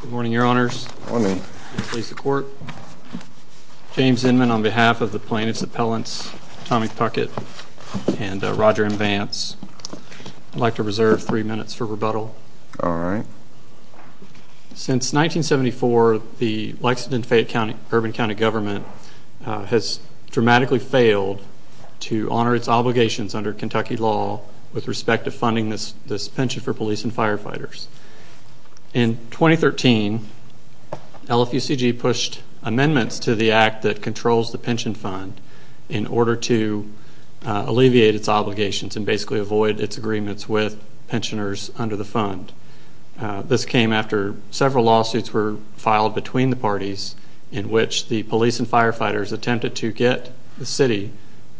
Good morning, your honors. James Inman on behalf of the plaintiff's appellants, Tommy Puckett and Roger Invance. I'd like to reserve three minutes for rebuttal. All right. Since 1974, the Lexington Fayette County Urban County Government has dramatically failed to honor its obligations under Kentucky law with respect to funding this pension for police and firefighters. In 2013, LFUCG pushed amendments to the act that controls the pension fund in order to alleviate its obligations and basically avoid its agreements with pensioners under the fund. This came after several lawsuits were filed between the parties in which the police and firefighters attempted to get the city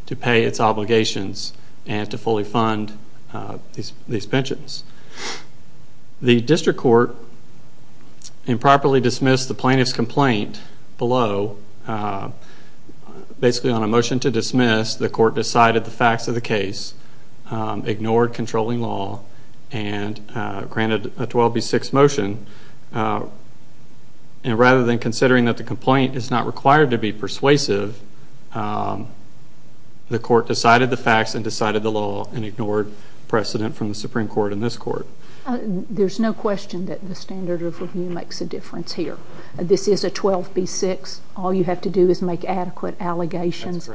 to pay its fund for these pensions. The district court improperly dismissed the plaintiff's complaint below. Basically on a motion to dismiss, the court decided the facts of the case, ignored controlling law, and granted a 12B6 motion. Rather than considering that the complaint is not required to be persuasive, the court decided the facts and decided the law and ignored precedent from the Supreme Court in this court. There's no question that the standard of review makes a difference here. This is a 12B6. All you have to do is make adequate allegations.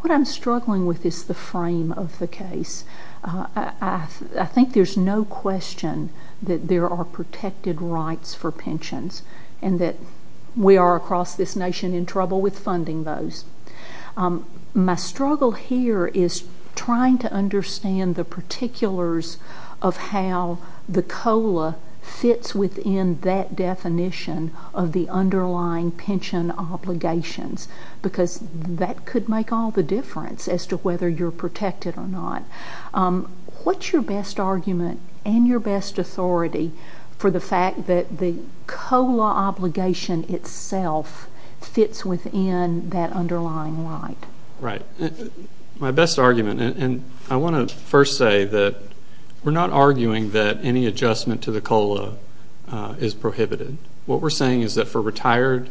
What I'm struggling with is the frame of the case. I think there's no question that there are protected rights for pensions and that we are across this trying to understand the particulars of how the COLA fits within that definition of the underlying pension obligations because that could make all the difference as to whether you're protected or not. What's your best argument and your best authority for the fact that the COLA obligation itself fits within that underlying right? Right. My best argument, and I want to first say that we're not arguing that any adjustment to the COLA is prohibited. What we're saying is that for retired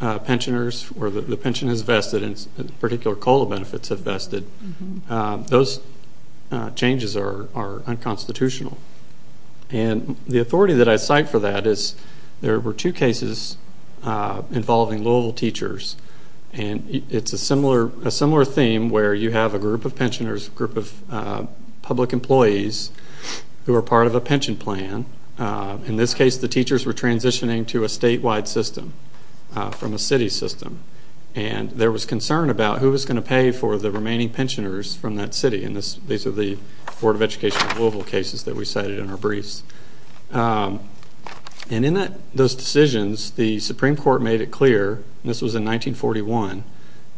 pensioners where the pension is vested and particular COLA benefits are vested, those changes are unconstitutional. And the authority that I cite for that is there were two cases involving Louisville teachers. And it's a similar theme where you have a group of pensioners, a group of public employees who are part of a pension plan. In this case, the teachers were transitioning to a statewide system from a city system. And there was concern about who was going to pay for the remaining pensioners from that city. And these are the Board of Education of Louisville cases that we cited in our case. And in those decisions, the Supreme Court made it clear, and this was in 1941,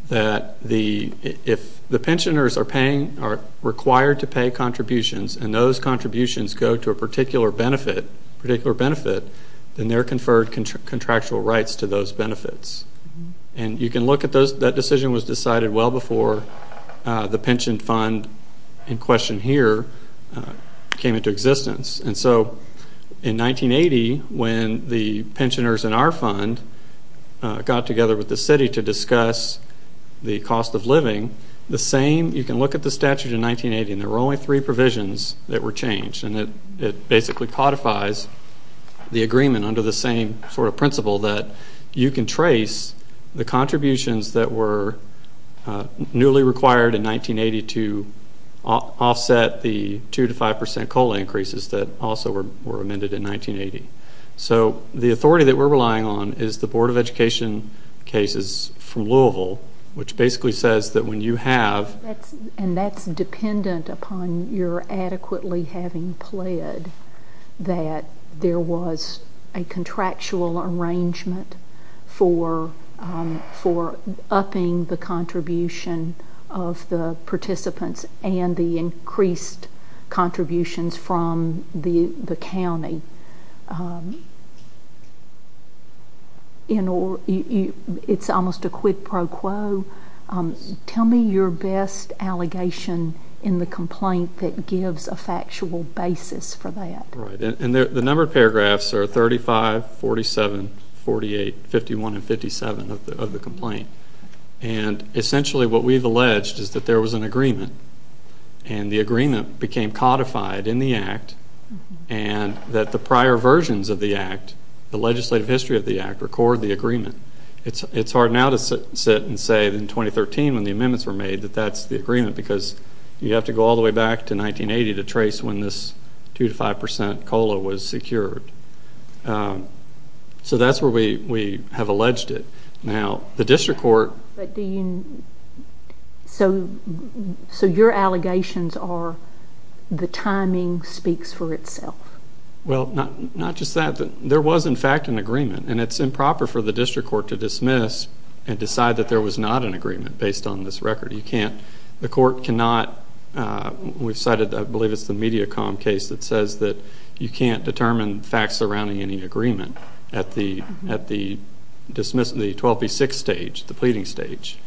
that if the pensioners are required to pay contributions and those contributions go to a particular benefit, then they're conferred contractual rights to those benefits. And you can look at those, that decision was decided well before the pension fund in question here came into existence. And so in 1980, when the pensioners in our fund got together with the city to discuss the cost of living, the same, you can look at the statute in 1980, and there were only three provisions that were changed. And it basically codifies the agreement under the same sort of principle that you can trace the contributions that were newly required in 1980 to offset the two to five percent COLA increases that also were amended in 1980. So the authority that we're relying on is the Board of Education cases from Louisville, which basically says that when you have... And that's dependent upon your adequately having pled that there was a contractual arrangement for upping the contribution of the participants and the increased contributions from the county. You know, it's almost a quid pro quo. Tell me your best allegation in the complaint that gives a factual basis for that. Right, and the number of paragraphs are 35, 47, 48, 51, and 57 of the complaint. And essentially what we've alleged is that there was an agreement, and the agreement became codified in the Act, and that the prior versions of the Act, the legislative history of the Act, record the agreement. It's hard now to sit and say that in 2013, when the amendments were made, that that's the agreement, because you have to go all the way back to 1980 to trace when this two five percent COLA was secured. So that's where we have alleged it. Now, the District Court... So your allegations are the timing speaks for itself. Well, not just that. There was, in fact, an agreement, and it's improper for the District Court to dismiss and decide that there was not an agreement based on this record. You can't... The court cannot... We've cited, I believe it's the Mediacom case that says that you can't determine facts surrounding any agreement at the dismissal, the 12B6 stage, the pleading stage.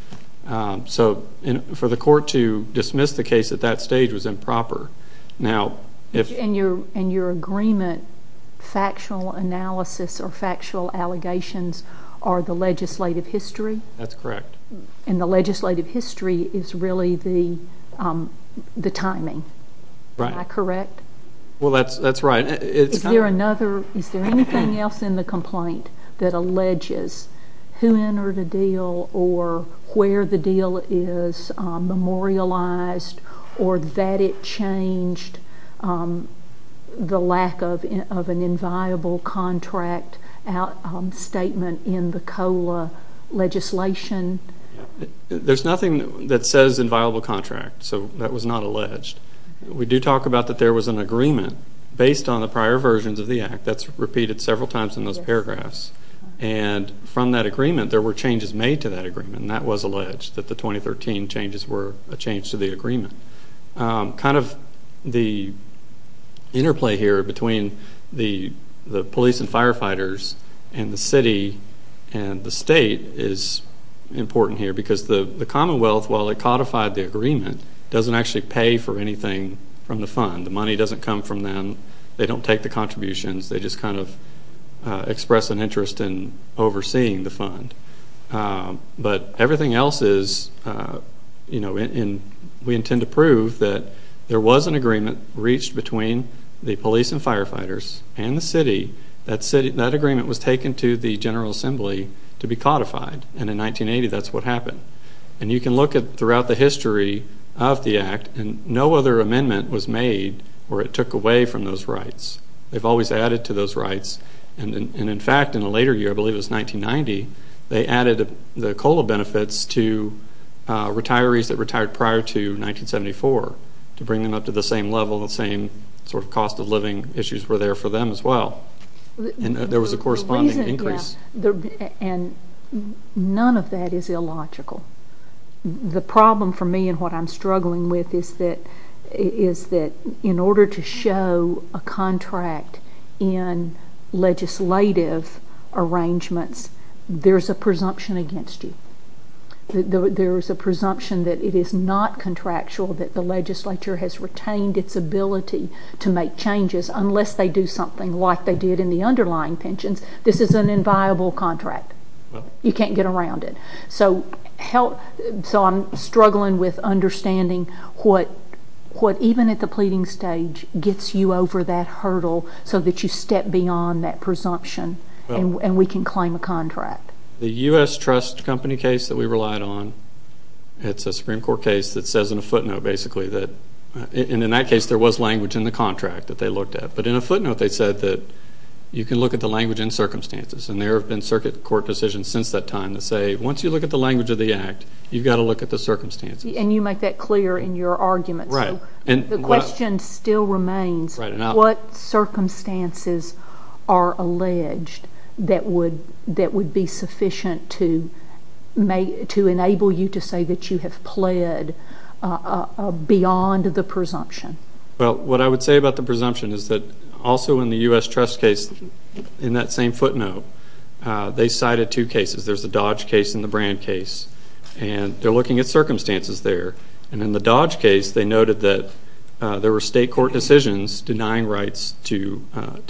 So for the court to dismiss the case at that stage was improper. Now, if... In your agreement, factual analysis or factual allegations are the legislative history? That's correct. And legislative history is really the timing. Right. Am I correct? Well, that's right. Is there another... Is there anything else in the complaint that alleges who entered a deal or where the deal is memorialized or that it changed the lack of an inviolable contract statement in the COLA legislation? There's nothing that says inviolable contract, so that was not alleged. We do talk about that there was an agreement based on the prior versions of the Act. That's repeated several times in those paragraphs. And from that agreement, there were changes made to that agreement, and that was alleged, that the 2013 changes were a change to the agreement. Kind of the interplay here between the police and firefighters and the city and the state is important here, because the Commonwealth, while it codified the agreement, doesn't actually pay for anything from the fund. The money doesn't come from them. They don't take the contributions. They just kind of express an interest in overseeing the fund. But everything else is... We intend to prove that there was an agreement reached between the police and firefighters and the city. That agreement was taken to the General Assembly to be codified, and in 1980, that's what happened. And you can look throughout the history of the Act, and no other amendment was made where it took away from those rights. They've always added to those rights. And in fact, in a later year, I believe it was 1990, they added the benefits to retirees that retired prior to 1974, to bring them up to the same level, the same sort of cost of living issues were there for them as well. And there was a corresponding increase. And none of that is illogical. The problem for me and what I'm struggling with is that in order to show a there is a presumption that it is not contractual, that the legislature has retained its ability to make changes, unless they do something like they did in the underlying pensions. This is an inviolable contract. You can't get around it. So help... So I'm struggling with understanding what even at the pleading stage gets you over that hurdle, so that you step beyond that presumption and we can claim a contract. The US Trust Company case that we relied on, it's a Supreme Court case that says in a footnote, basically, that... And in that case, there was language in the contract that they looked at. But in a footnote, they said that you can look at the language and circumstances. And there have been circuit court decisions since that time that say, once you look at the language of the Act, you've got to look at the circumstances. And you make that clear in your argument. Right. And the question still remains, what circumstances are alleged that would be sufficient to enable you to say that you have pled beyond the presumption? Well, what I would say about the presumption is that, also in the US Trust case, in that same footnote, they cited two cases. There's the Dodge case and the Brand case. And they're looking at circumstances there. And in the Dodge case, they noted that there were state court decisions denying rights to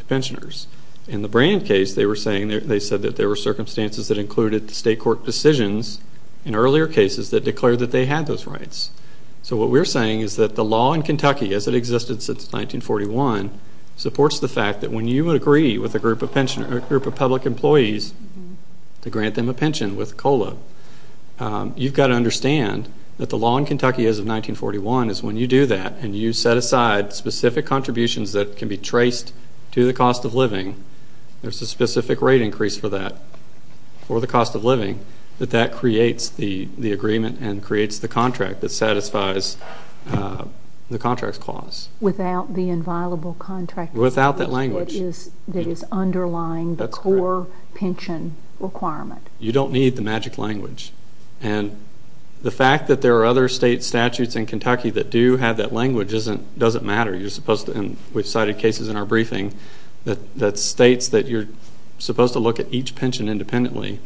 pensioners. In the Brand case, they were saying, they said that there were circumstances that included the state court decisions in earlier cases that declared that they had those rights. So what we're saying is that the law in Kentucky, as it existed since 1941, supports the fact that when you agree with a group of public employees to grant them a pension with 1941, is when you do that and you set aside specific contributions that can be traced to the cost of living, there's a specific rate increase for that, for the cost of living, that that creates the agreement and creates the contract that satisfies the contract's clause. Without the inviolable contract... Without that language. That is underlying the core pension requirement. You don't need the magic language. And the fact that there are other state statutes in Kentucky that do have that language doesn't matter. You're supposed to... We've cited cases in our briefing that states that you're supposed to look at each pension independently.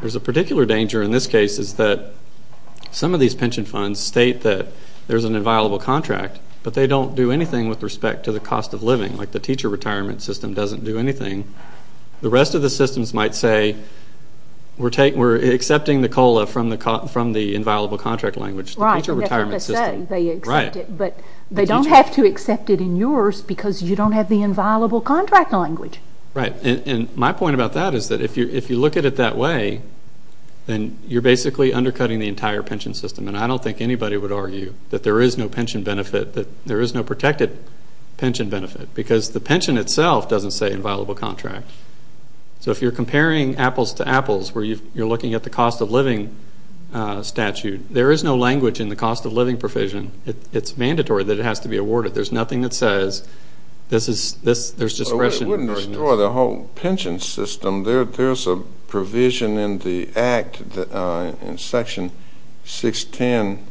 There's a particular danger in this case, is that some of these pension funds state that there's an inviolable contract, but they don't do anything with respect to the cost of living. Like the teacher retirement system doesn't do anything. The rest of the systems might say, we're accepting the COLA from the inviolable contract language, the teacher retirement system. Right, that's what they say, they accept it. But they don't have to accept it in yours because you don't have the inviolable contract language. Right. And my point about that is that if you look at it that way, then you're basically undercutting the entire pension system. And I don't think anybody would argue that there is no pension benefit, that there is no protected pension benefit, because the apples to apples, where you're looking at the cost of living statute, there is no language in the cost of living provision. It's mandatory that it has to be awarded. There's nothing that says, there's discretion... It wouldn't destroy the whole pension system. There's a provision in the act, in section 610,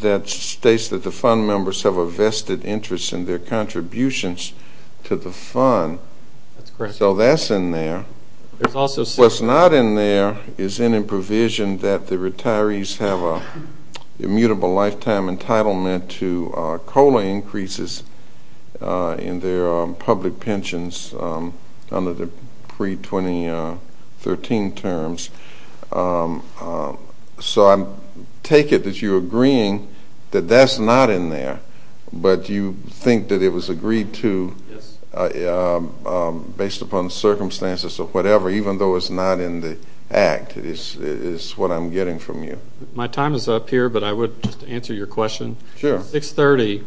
that states that the fund members have a vested interest in their contributions to the fund. That's correct. So that's in there. There's also... What's not in there is in a provision that the retirees have a immutable lifetime entitlement to COLA increases in their public pensions under the pre 2013 terms. So I take it that you're agreeing that that's not in there, but you think that it was agreed to based upon circumstances or whatever, even though it's not in the act, it is what I'm getting from you. My time is up here, but I would just answer your question. Sure. 630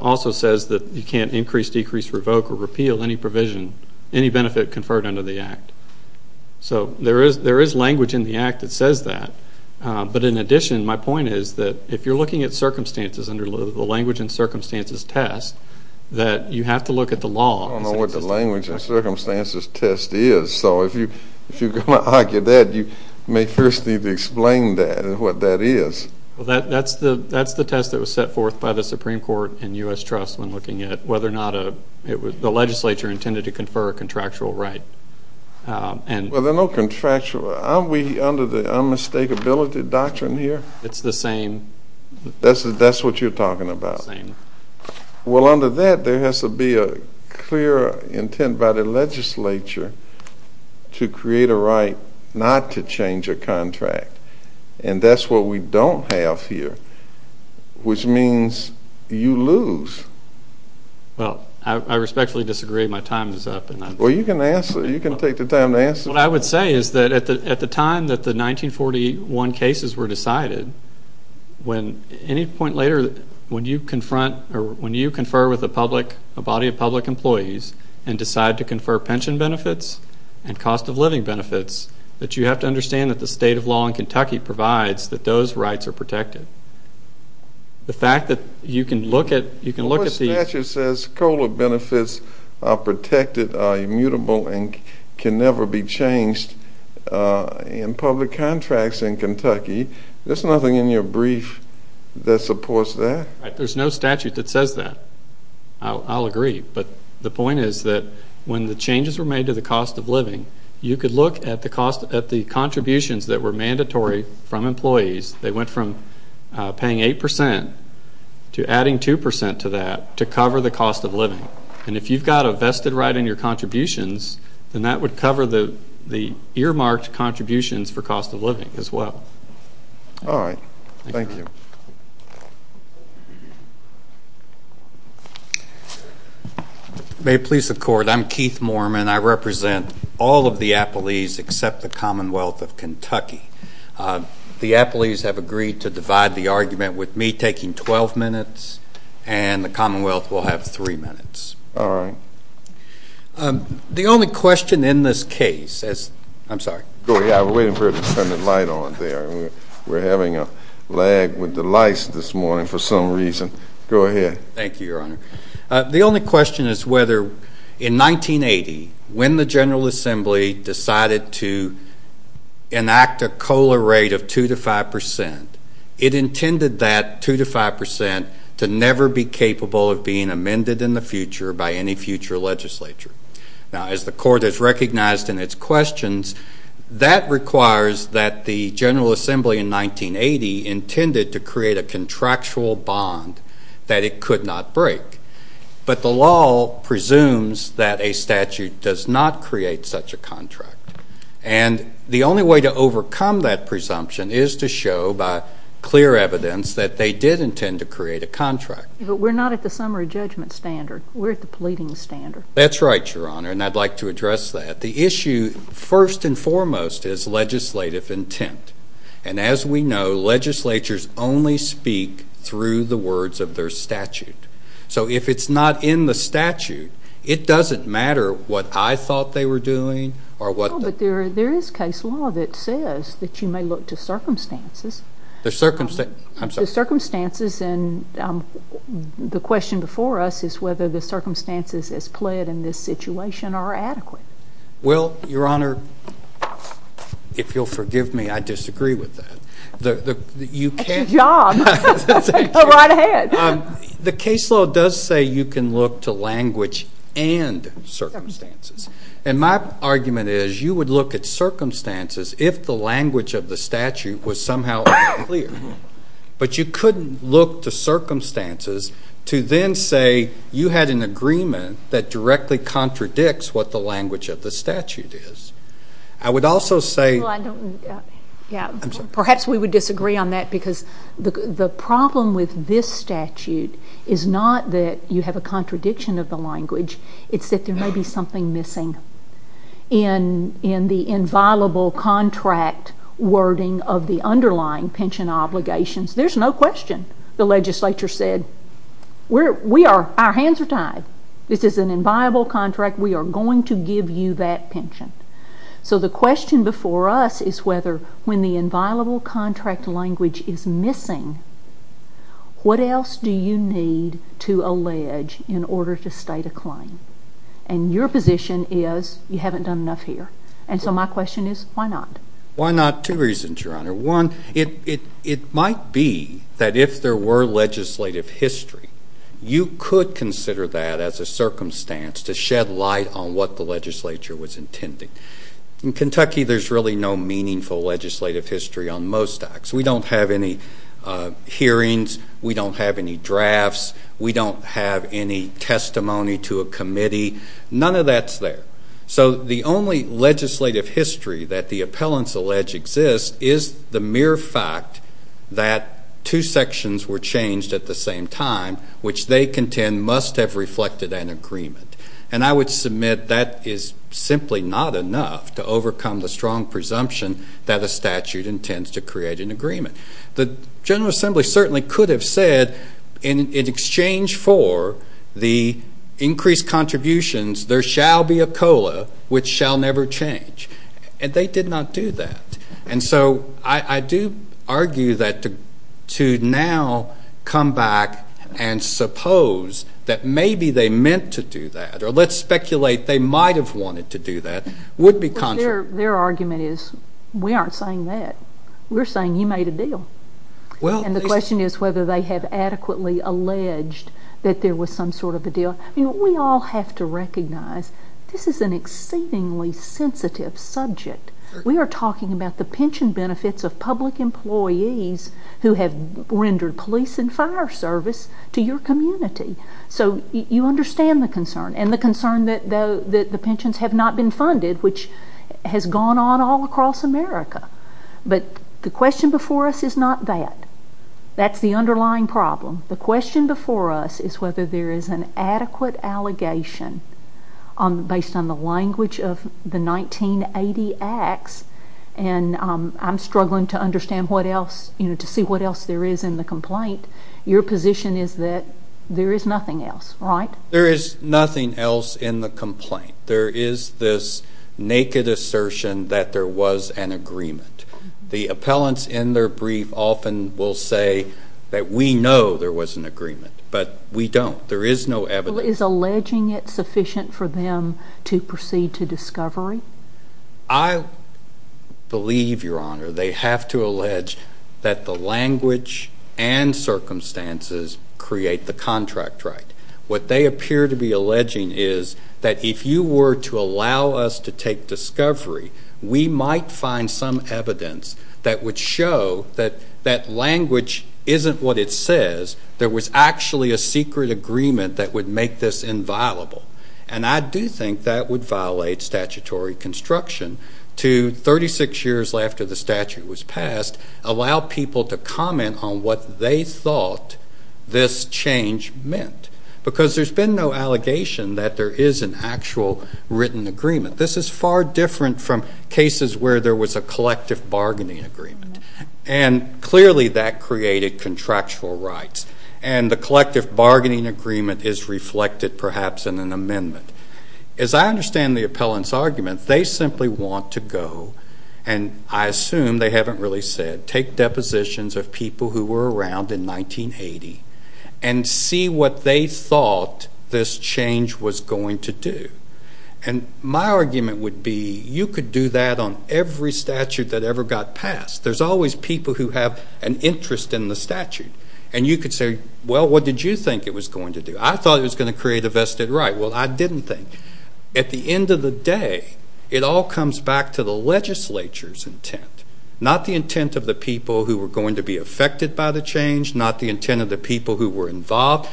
also says that you can't increase, decrease, revoke, or repeal any provision, any benefit conferred under the act. So there is language in the act that says that. But in addition, my point is that if you're looking at circumstances under the language and circumstances test, that you have to look at the law. I don't know what the language and circumstances test is. So if you're gonna argue that, you may first need to explain that and what that is. Well, that's the test that was set forth by the Supreme Court and US Trust when looking at whether or not the legislature intended to confer a contractual right. Well, there are no contractual... Aren't we under the unmistakability doctrine here? It's the same... That's what you're talking about. It's the same. Well, under that, there has to be a clear intent by the legislature to create a right not to change a contract. And that's what we don't have here, which means you lose. Well, I respectfully disagree. My time is up. And I... Well, you can answer. You can take the time to answer. What I would say is that at the time that the 1941 cases were decided, when any point later, when you confront or when you confer with a public... A body of public employees and decide to confer pension benefits and cost of living benefits, that you have to understand that the state of law in Kentucky provides that those rights are protected. The fact that you can look at... You can look at the... The court statute says COLA benefits are protected, are immutable and can never be changed in public contracts in Kentucky. There's nothing in your brief that supports that? There's no statute that says that. I'll agree. But the point is that when the changes were made to the cost of living, you could look at the cost... At the contributions that were mandatory from employees. They went from paying 8% to adding 2% to that to cover the cost of living. And if you've got a vested right in your contributions, then that would cover the earmarked contributions for cost of living as well. Alright. Thank you. May it please the court, I'm Keith Moorman. I represent all of the appellees except the Commonwealth of Kentucky. The appellees have agreed to divide the argument with me taking 12 minutes and the Commonwealth will have three minutes. Alright. The only question in this case is... I'm sorry. Go ahead. I was waiting for you to turn the light on there. We're having a lag with the lights this morning for some reason. Go ahead. Thank you, Your Honor. The only question is whether in 1980, when the General Assembly decided to enact a COLA rate of 2% to 5%, it intended that 2% to 5% to never be capable of being amended in the future by any future legislature. Now, as the court has recognized in its questions, that requires that the General Assembly in 1980 intended to create a contractual bond that it could not break. But the law presumes that a statute does not create such a contract. And the only way to overcome that presumption is to show by clear evidence that they did intend to create a contract. But we're not at the summary judgment standard. We're at the leading standard. That's right, Your Honor, and I'd like to address that. The issue, first and foremost, is legislative intent. And as we know, legislatures only speak through the words of their statute. So if it's not in the statute, it doesn't matter what I thought they were doing or what... No, but there is case law that says that you may look to circumstances. The circumstances... I'm sorry. The circumstances and the question before us is whether the circumstances as played in this situation are adequate. Well, Your Honor, if you'll forgive me, I disagree with that. You can't... Good job. Right ahead. The case law does say you can look to language and circumstances. And my argument is you would look at circumstances if the language of the statute was somehow clear. But you couldn't look to circumstances to then say you had an agreement that directly contradicts what the language of the statute is. I would also say... Well, I don't... Yeah. I'm sorry. Perhaps we would disagree on that because the problem with this statute is not that you have a contradiction of the language, it's that there may be something missing in the inviolable contract wording of the underlying pension obligations. There's no question. The legislature said, we are... Our hands are tied. This is an inviolable contract, we are going to give you that pension. So the question before us is whether when the inviolable contract language is missing, what else do you need to allege in order to state a claim? And your position is you haven't done enough here. And so my question is, why not? Why not? Two reasons, Your Honor. One, it might be that if there were legislative history, you could consider that as a circumstance to shed light on what the legislature was intending. In Kentucky, there's really no meaningful legislative history on most acts. We don't have any hearings, we don't have any drafts, we don't have any testimony to a committee, none of that's there. So the only legislative history that the appellants allege exists is the mere fact that two sections were changed at the same time, which they contend must have reflected an agreement. And I would submit that is simply not enough to overcome the strong presumption that a statute intends to create an agreement. The General Assembly certainly could have said, in exchange for the increased contributions, there shall be a COLA, which shall never change. And they did not do that. And so I do argue that to now come back and suppose that maybe they meant to do that, or let's speculate they might have wanted to do that, would be contrary. Their argument is, we aren't saying that. We're saying you made a deal. Well, and the question is whether they have adequately alleged that there was some sort of a deal. We all have to recognize this is an exceedingly sensitive subject. We are talking about the pension benefits of public employees who have rendered police and fire service to your community. So you understand the concern and the concern that the pensions have not been funded, which has gone on all across America. But the question before us is not that. That's the underlying problem. The question before us is whether there is an adequate allegation based on the language of the 1980 acts. And I'm struggling to understand what else, to see what else there is in the complaint. Your position is that there is nothing else, right? There is nothing else in the complaint. There is this naked assertion that there was an agreement. The appellants in their brief often will say that we know there was an agreement, but we don't. There is no evidence. Is alleging it sufficient for them to proceed to discovery? I believe, Your Honor, they have to allege that the language and circumstances create the contract right. What they appear to be alleging is that if you were to look, we might find some evidence that would show that that language isn't what it says. There was actually a secret agreement that would make this inviolable. And I do think that would violate statutory construction to 36 years after the statute was passed, allow people to comment on what they thought this change meant. Because there's been no allegation that there is an actual written agreement. This is far different from cases where there was a collective bargaining agreement. And clearly that created contractual rights. And the collective bargaining agreement is reflected perhaps in an amendment. As I understand the appellant's argument, they simply want to go, and I assume they haven't really said, take depositions of people who were around in 1980 and see what they thought this change was going to do. And my argument would be you could do that on every statute that ever got passed. There's always people who have an interest in the statute. And you could say, well, what did you think it was going to do? I thought it was going to create a vested right. Well, I didn't think. At the end of the day, it all comes back to the legislature's intent, not the intent of the people who were going to be affected by the change, not the intent of the people who were involved.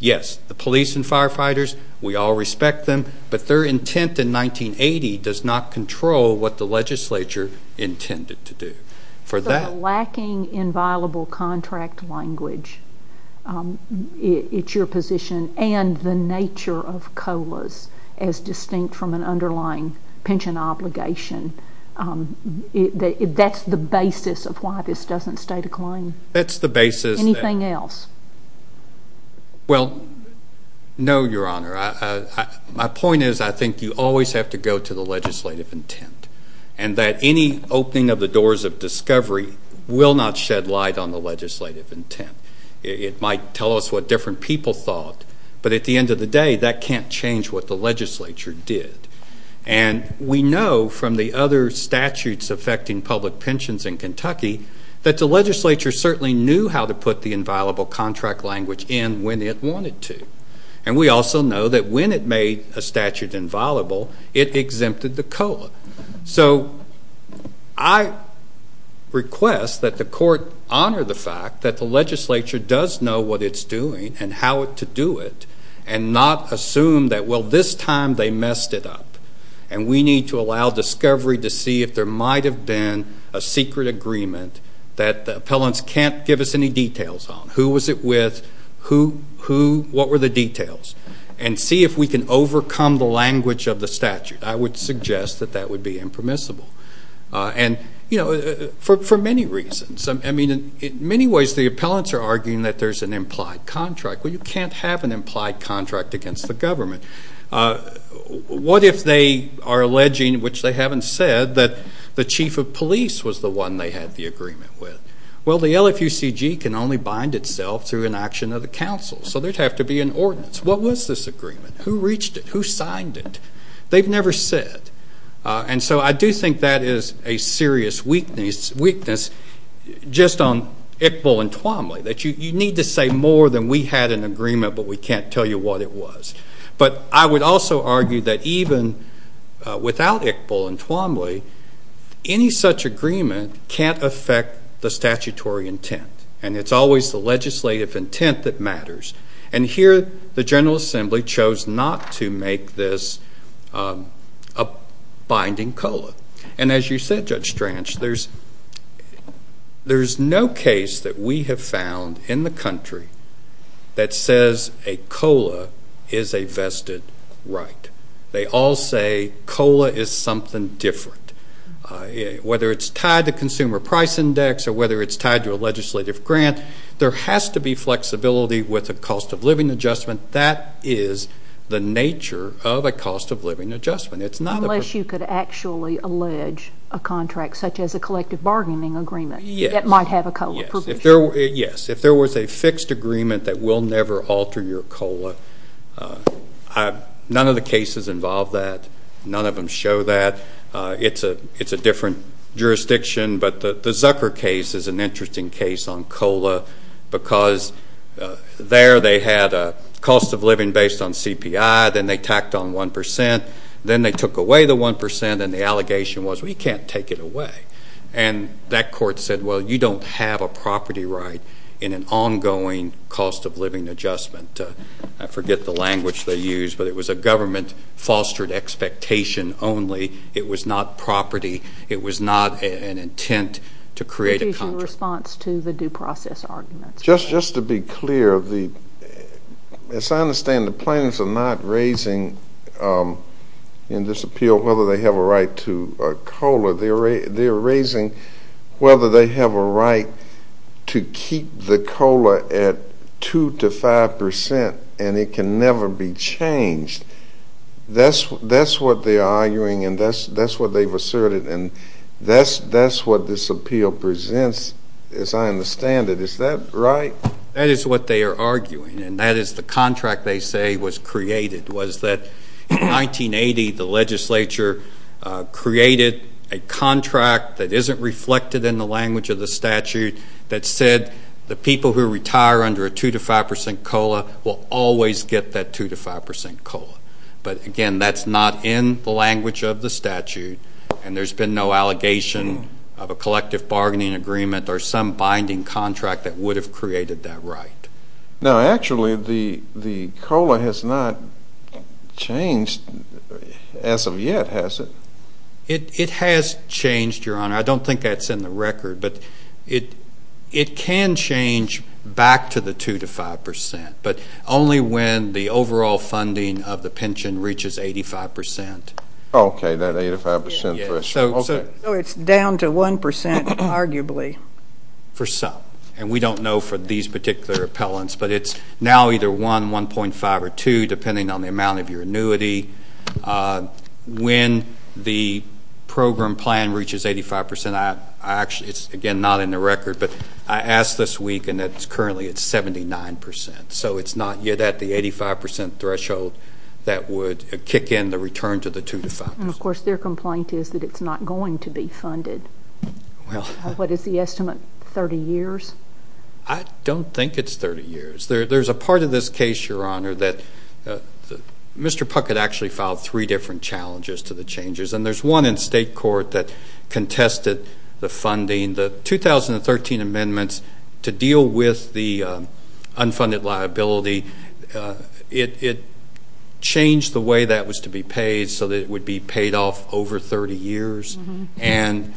Yes, the police and firefighters, we all respect them. But their intent in 1980 does not control what the legislature intended to do. For that... So lacking in viable contract language, it's your position, and the nature of COLAs as distinct from an underlying pension obligation. That's the basis of why this doesn't stay the claim. That's the basis. Anything else? Well, no, Your Honor. My point is, I think you always have to go to the legislative intent, and that any opening of the doors of discovery will not shed light on the legislative intent. It might tell us what different people thought, but at the end of the day, that can't change what the other statutes affecting public pensions in Kentucky, that the legislature certainly knew how to put the inviolable contract language in when it wanted to. And we also know that when it made a statute inviolable, it exempted the COLA. So I request that the court honor the fact that the legislature does know what it's doing and how to do it, and not assume that, well, this time they messed it up. And we need to allow discovery to see if there might have been a secret agreement that the appellants can't give us any details on. Who was it with? What were the details? And see if we can overcome the language of the statute. I would suggest that that would be impermissible. And for many reasons. In many ways, the appellants are arguing that there's an implied contract. Well, you can't have an implied contract against the government. What if they are alleging, which they haven't said, that the chief of police was the one they had the agreement with? Well, the LFUCG can only bind itself through an action of the council, so there'd have to be an ordinance. What was this agreement? Who reached it? Who signed it? They've never said. And so I do think that is a serious weakness just on Iqbal and Twombly, that you need to say more than we had an agreement, but we can't tell you what it was. But I would also argue that even without Iqbal and Twombly, any such agreement can't affect the statutory intent. And it's always the legislative intent that matters. And here, the General Assembly chose not to make this a binding COLA. And as you said, Judge Stranch, there's no case that we have found in the country that says a COLA is a vested right. They all say COLA is something different. Whether it's tied to consumer price index or whether it's tied to a legislative grant, there has to be flexibility with a cost of living adjustment. That is the nature of a cost of living adjustment. It's not... Unless you could actually allege a contract, such as a collective bargaining agreement, that might have a COLA provision. Yes. If there was a fixed agreement that will never alter your COLA, none of the cases involve that. None of them show that. It's a different jurisdiction. But the Zucker case is an interesting case on COLA because there they had a cost of living based on CPI, then they tacked on 1%, then they took away the 1%, and the allegation was, we can't take it away. And that court said, well, you don't have a property right in an ongoing cost of living adjustment. I forget the language they used, but it was a government fostered expectation only. It was not property. It was not an intent to create a contract. In response to the due process arguments. Just to be clear, the... As I understand, the plaintiffs are not raising in this appeal whether they have a right to a COLA. They're raising whether they have a right to keep the COLA at 2% to 5%, and it can never be changed. That's what they are arguing, and that's what they've asserted, and that's what this appeal presents, as I understand it. Is that right? That is what they are arguing, and that is the contract they say was created, was that in 1980, the legislature created a contract that isn't reflected in the language of the statute that said, the people who retire under a 2% to 5% COLA will always get that 2% to 5% COLA. But again, that's not in the language of the statute, and there's been no allegation of a collective bargaining agreement or some binding contract that would have created that right. Now, actually, the COLA has not changed as of yet, has it? It has changed, Your Honor. I don't think that's in the record, but it can change back to the 2% to 5%, but only when the overall funding of the program is down to 1%, arguably. For some, and we don't know for these particular appellants, but it's now either 1, 1.5, or 2, depending on the amount of your annuity. When the program plan reaches 85%, I actually... It's, again, not in the record, but I asked this week, and it's currently at 79%. So it's not yet at the 85% threshold that would kick in the return to the 2% to 5%. And of course, it's not going to be funded. Well... What is the estimate? 30 years? I don't think it's 30 years. There's a part of this case, Your Honor, that Mr. Puckett actually filed three different challenges to the changes, and there's one in state court that contested the funding. The 2013 amendments to deal with the unfunded liability, it changed the way that was to be paid so that it would be paid off over 30 years. And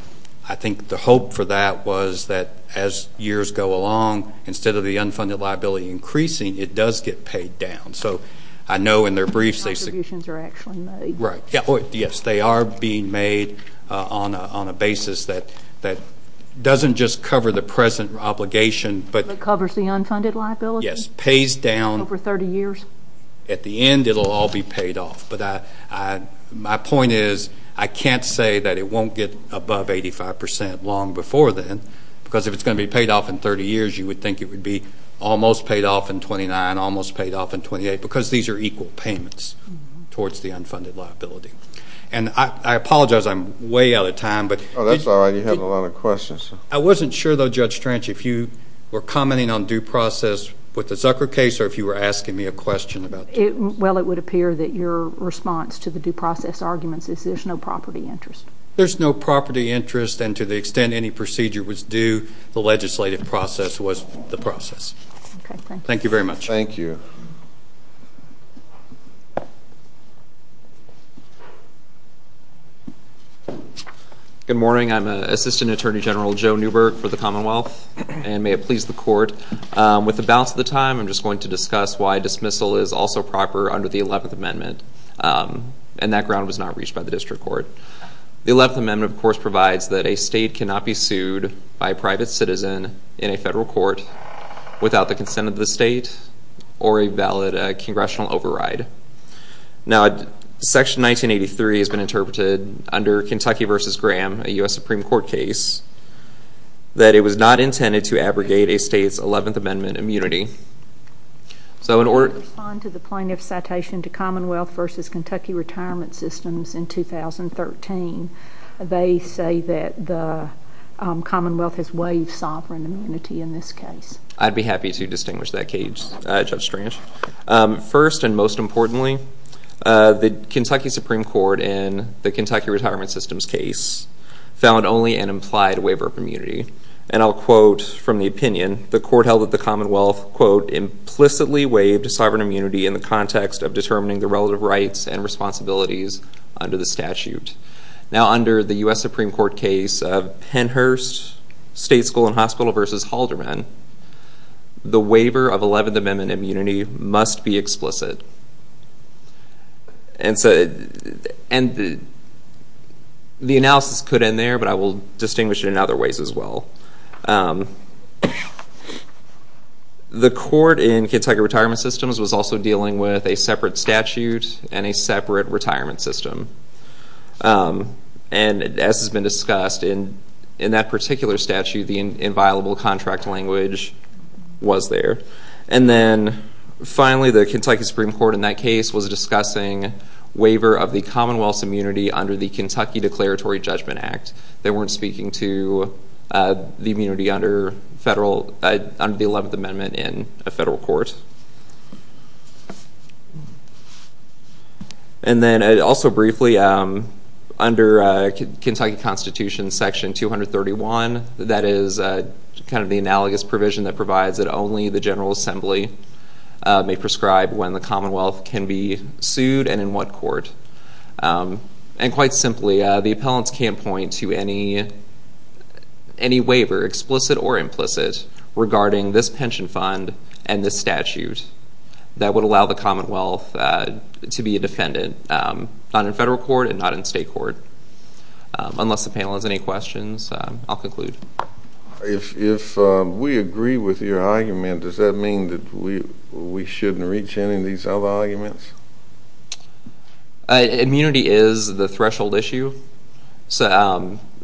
I think the hope for that was that as years go along, instead of the unfunded liability increasing, it does get paid down. So I know in their briefs... The contributions are actually made. Right. Yes, they are being made on a basis that doesn't just cover the present obligation, but... But covers the unfunded liability? Yes. Pays down... Over 30 years? At the end, it'll all be paid. The point is, I can't say that it won't get above 85% long before then, because if it's gonna be paid off in 30 years, you would think it would be almost paid off in 29, almost paid off in 28, because these are equal payments towards the unfunded liability. And I apologize, I'm way out of time, but... Oh, that's all right. You have a lot of questions. I wasn't sure, though, Judge Strange, if you were commenting on due process with interest. Well, it would appear that your response to the due process arguments is there's no property interest. There's no property interest, and to the extent any procedure was due, the legislative process was the process. Okay, thank you. Thank you very much. Thank you. Good morning, I'm Assistant Attorney General Joe Newberg for the Commonwealth, and may it please the court. With the bounce of the time, I'm just going to discuss why dismissal is also proper under the 11th Amendment, and that ground was not reached by the District Court. The 11th Amendment, of course, provides that a state cannot be sued by a private citizen in a federal court without the consent of the state or a valid congressional override. Now, Section 1983 has been interpreted under Kentucky v. Graham, a US Supreme Court case, that it was not intended to abrogate a state's 11th Amendment immunity, so in order... Can you respond to the plaintiff's citation to Commonwealth v. Kentucky Retirement Systems in 2013? They say that the Commonwealth has waived sovereign immunity in this case. I'd be happy to distinguish that case, Judge Strange. First and most importantly, the Kentucky Supreme Court in the Kentucky Retirement Systems case found only an implied waiver of immunity, and I'll quote from the opinion, the court held that the Commonwealth, quote, implicitly waived sovereign immunity in the context of determining the relative rights and responsibilities under the statute. Now, under the US Supreme Court case of Pennhurst State School and Hospital v. Halderman, the waiver of 11th Amendment immunity must be explicit. And the analysis could end there, but I will distinguish it in other ways as well. The court in Kentucky Retirement Systems was also dealing with a separate statute and a separate retirement system. And as has been discussed, in that particular statute, the inviolable contract language was there. And then finally, the Kentucky Supreme Court in that case was discussing waiver of the Commonwealth's immunity under the Kentucky Declaratory Judgment Act. They weren't speaking to the immunity under the 11th Amendment in a federal court. And then also briefly, under Kentucky Constitution Section 231, that is kind of the analogous provision that provides that only the General Assembly may prescribe when the Commonwealth can be sued and in what court. And quite simply, the appellants can't point to any waiver, explicit or implicit, regarding this pension fund and this statute that would allow the Commonwealth to be a defendant, not in federal court and not in state court. Unless the panel has any questions, I'll conclude. If we agree with your argument, does that mean that we shouldn't reach any of these other arguments? Immunity is the threshold issue.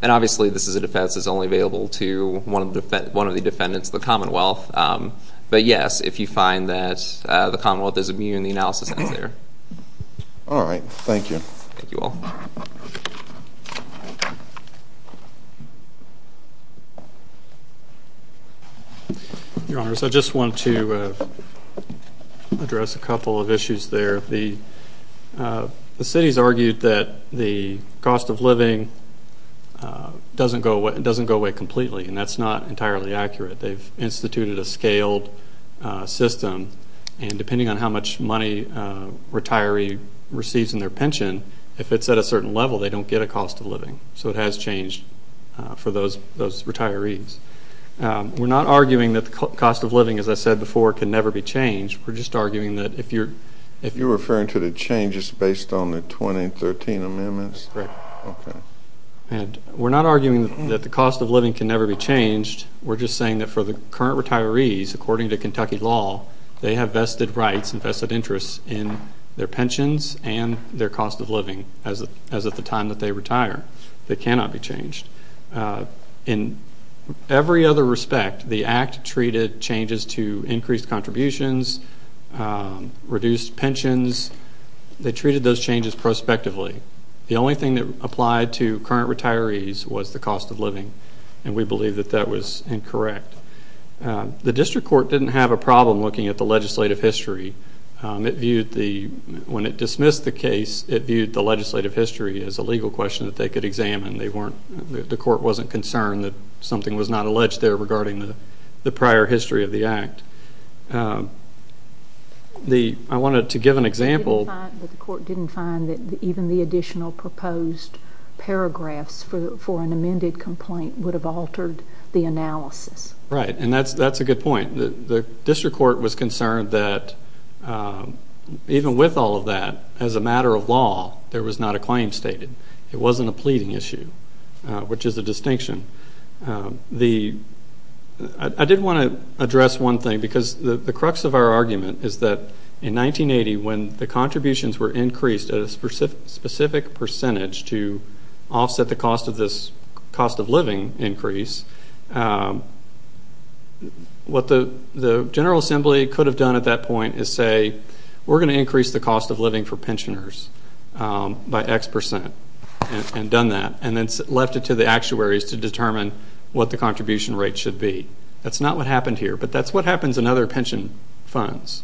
And obviously, this is a defense that's only available to one of the defendants, the Commonwealth. But yes, if you find that the Commonwealth is immune, the analysis ends there. All right. Thank you. Thank you all. Your Honors, I just want to address a couple of issues there. The city's argued that the cost of living doesn't go away completely. And that's not entirely accurate. They've instituted a scaled system. And depending on how much money a retiree receives in their pension, if it's at a certain level, they don't get a cost of living. So it has changed for those retirees. We're not arguing that the cost of living, as I said before, can never be changed. We're just arguing that if you're... If you're referring to the changes based on the 2013 amendments? Correct. Okay. And we're not arguing that the cost of living can never be changed. We're just saying that for the current retirees, according to Kentucky law, they have vested rights and vested interests in their pensions and their cost of living as of the time that they retire. They cannot be changed. In every other respect, the act treated changes to increased contributions, reduced pensions. They treated those changes prospectively. The only thing that applied to current retirees was the cost of living. And we believe that that was incorrect. The district court didn't have a problem looking at the legislative history. It viewed the... When it dismissed the case, it viewed the legislative history as a legal question that they could examine. They weren't... The court wasn't concerned that something was not alleged there regarding the prior history of the act. I wanted to give an example... But the court didn't find that even the additional proposed paragraphs for an amended complaint would have altered the analysis. Right. And that's a good point. The district court was concerned that even with all of that, as a matter of law, there was not a claim stated. It wasn't a pleading issue, which is a distinction. I did want to address one thing because the crux of our argument is that in 1980, when the contributions were increased at a specific percentage to offset the cost of this cost of living increase, what the General Assembly could have done at that point is say, we're going to increase the cost of living for pensioners by X percent. And done that, and then left it to the actuaries to determine what the contribution rate should be. That's not what happened here, but that's what happens in other pension funds.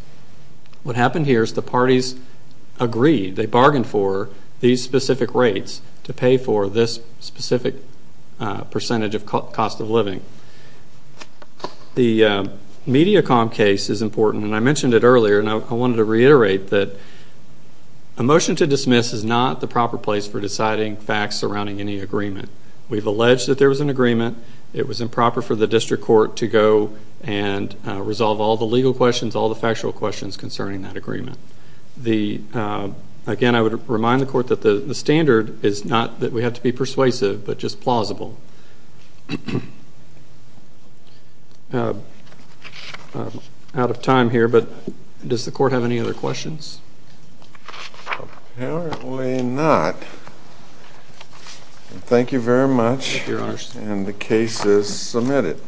What happened here is the parties agreed, they bargained for these specific rates to pay for this specific percentage of cost of living. The Mediacom case is important, and I mentioned it earlier, and I wanted to facts surrounding any agreement. We've alleged that there was an agreement. It was improper for the district court to go and resolve all the legal questions, all the factual questions concerning that agreement. Again, I would remind the court that the standard is not that we have to be persuasive, but just plausible. I'm out of time here, but does the court have any other questions? Apparently not. Thank you very much, and the case is submitted.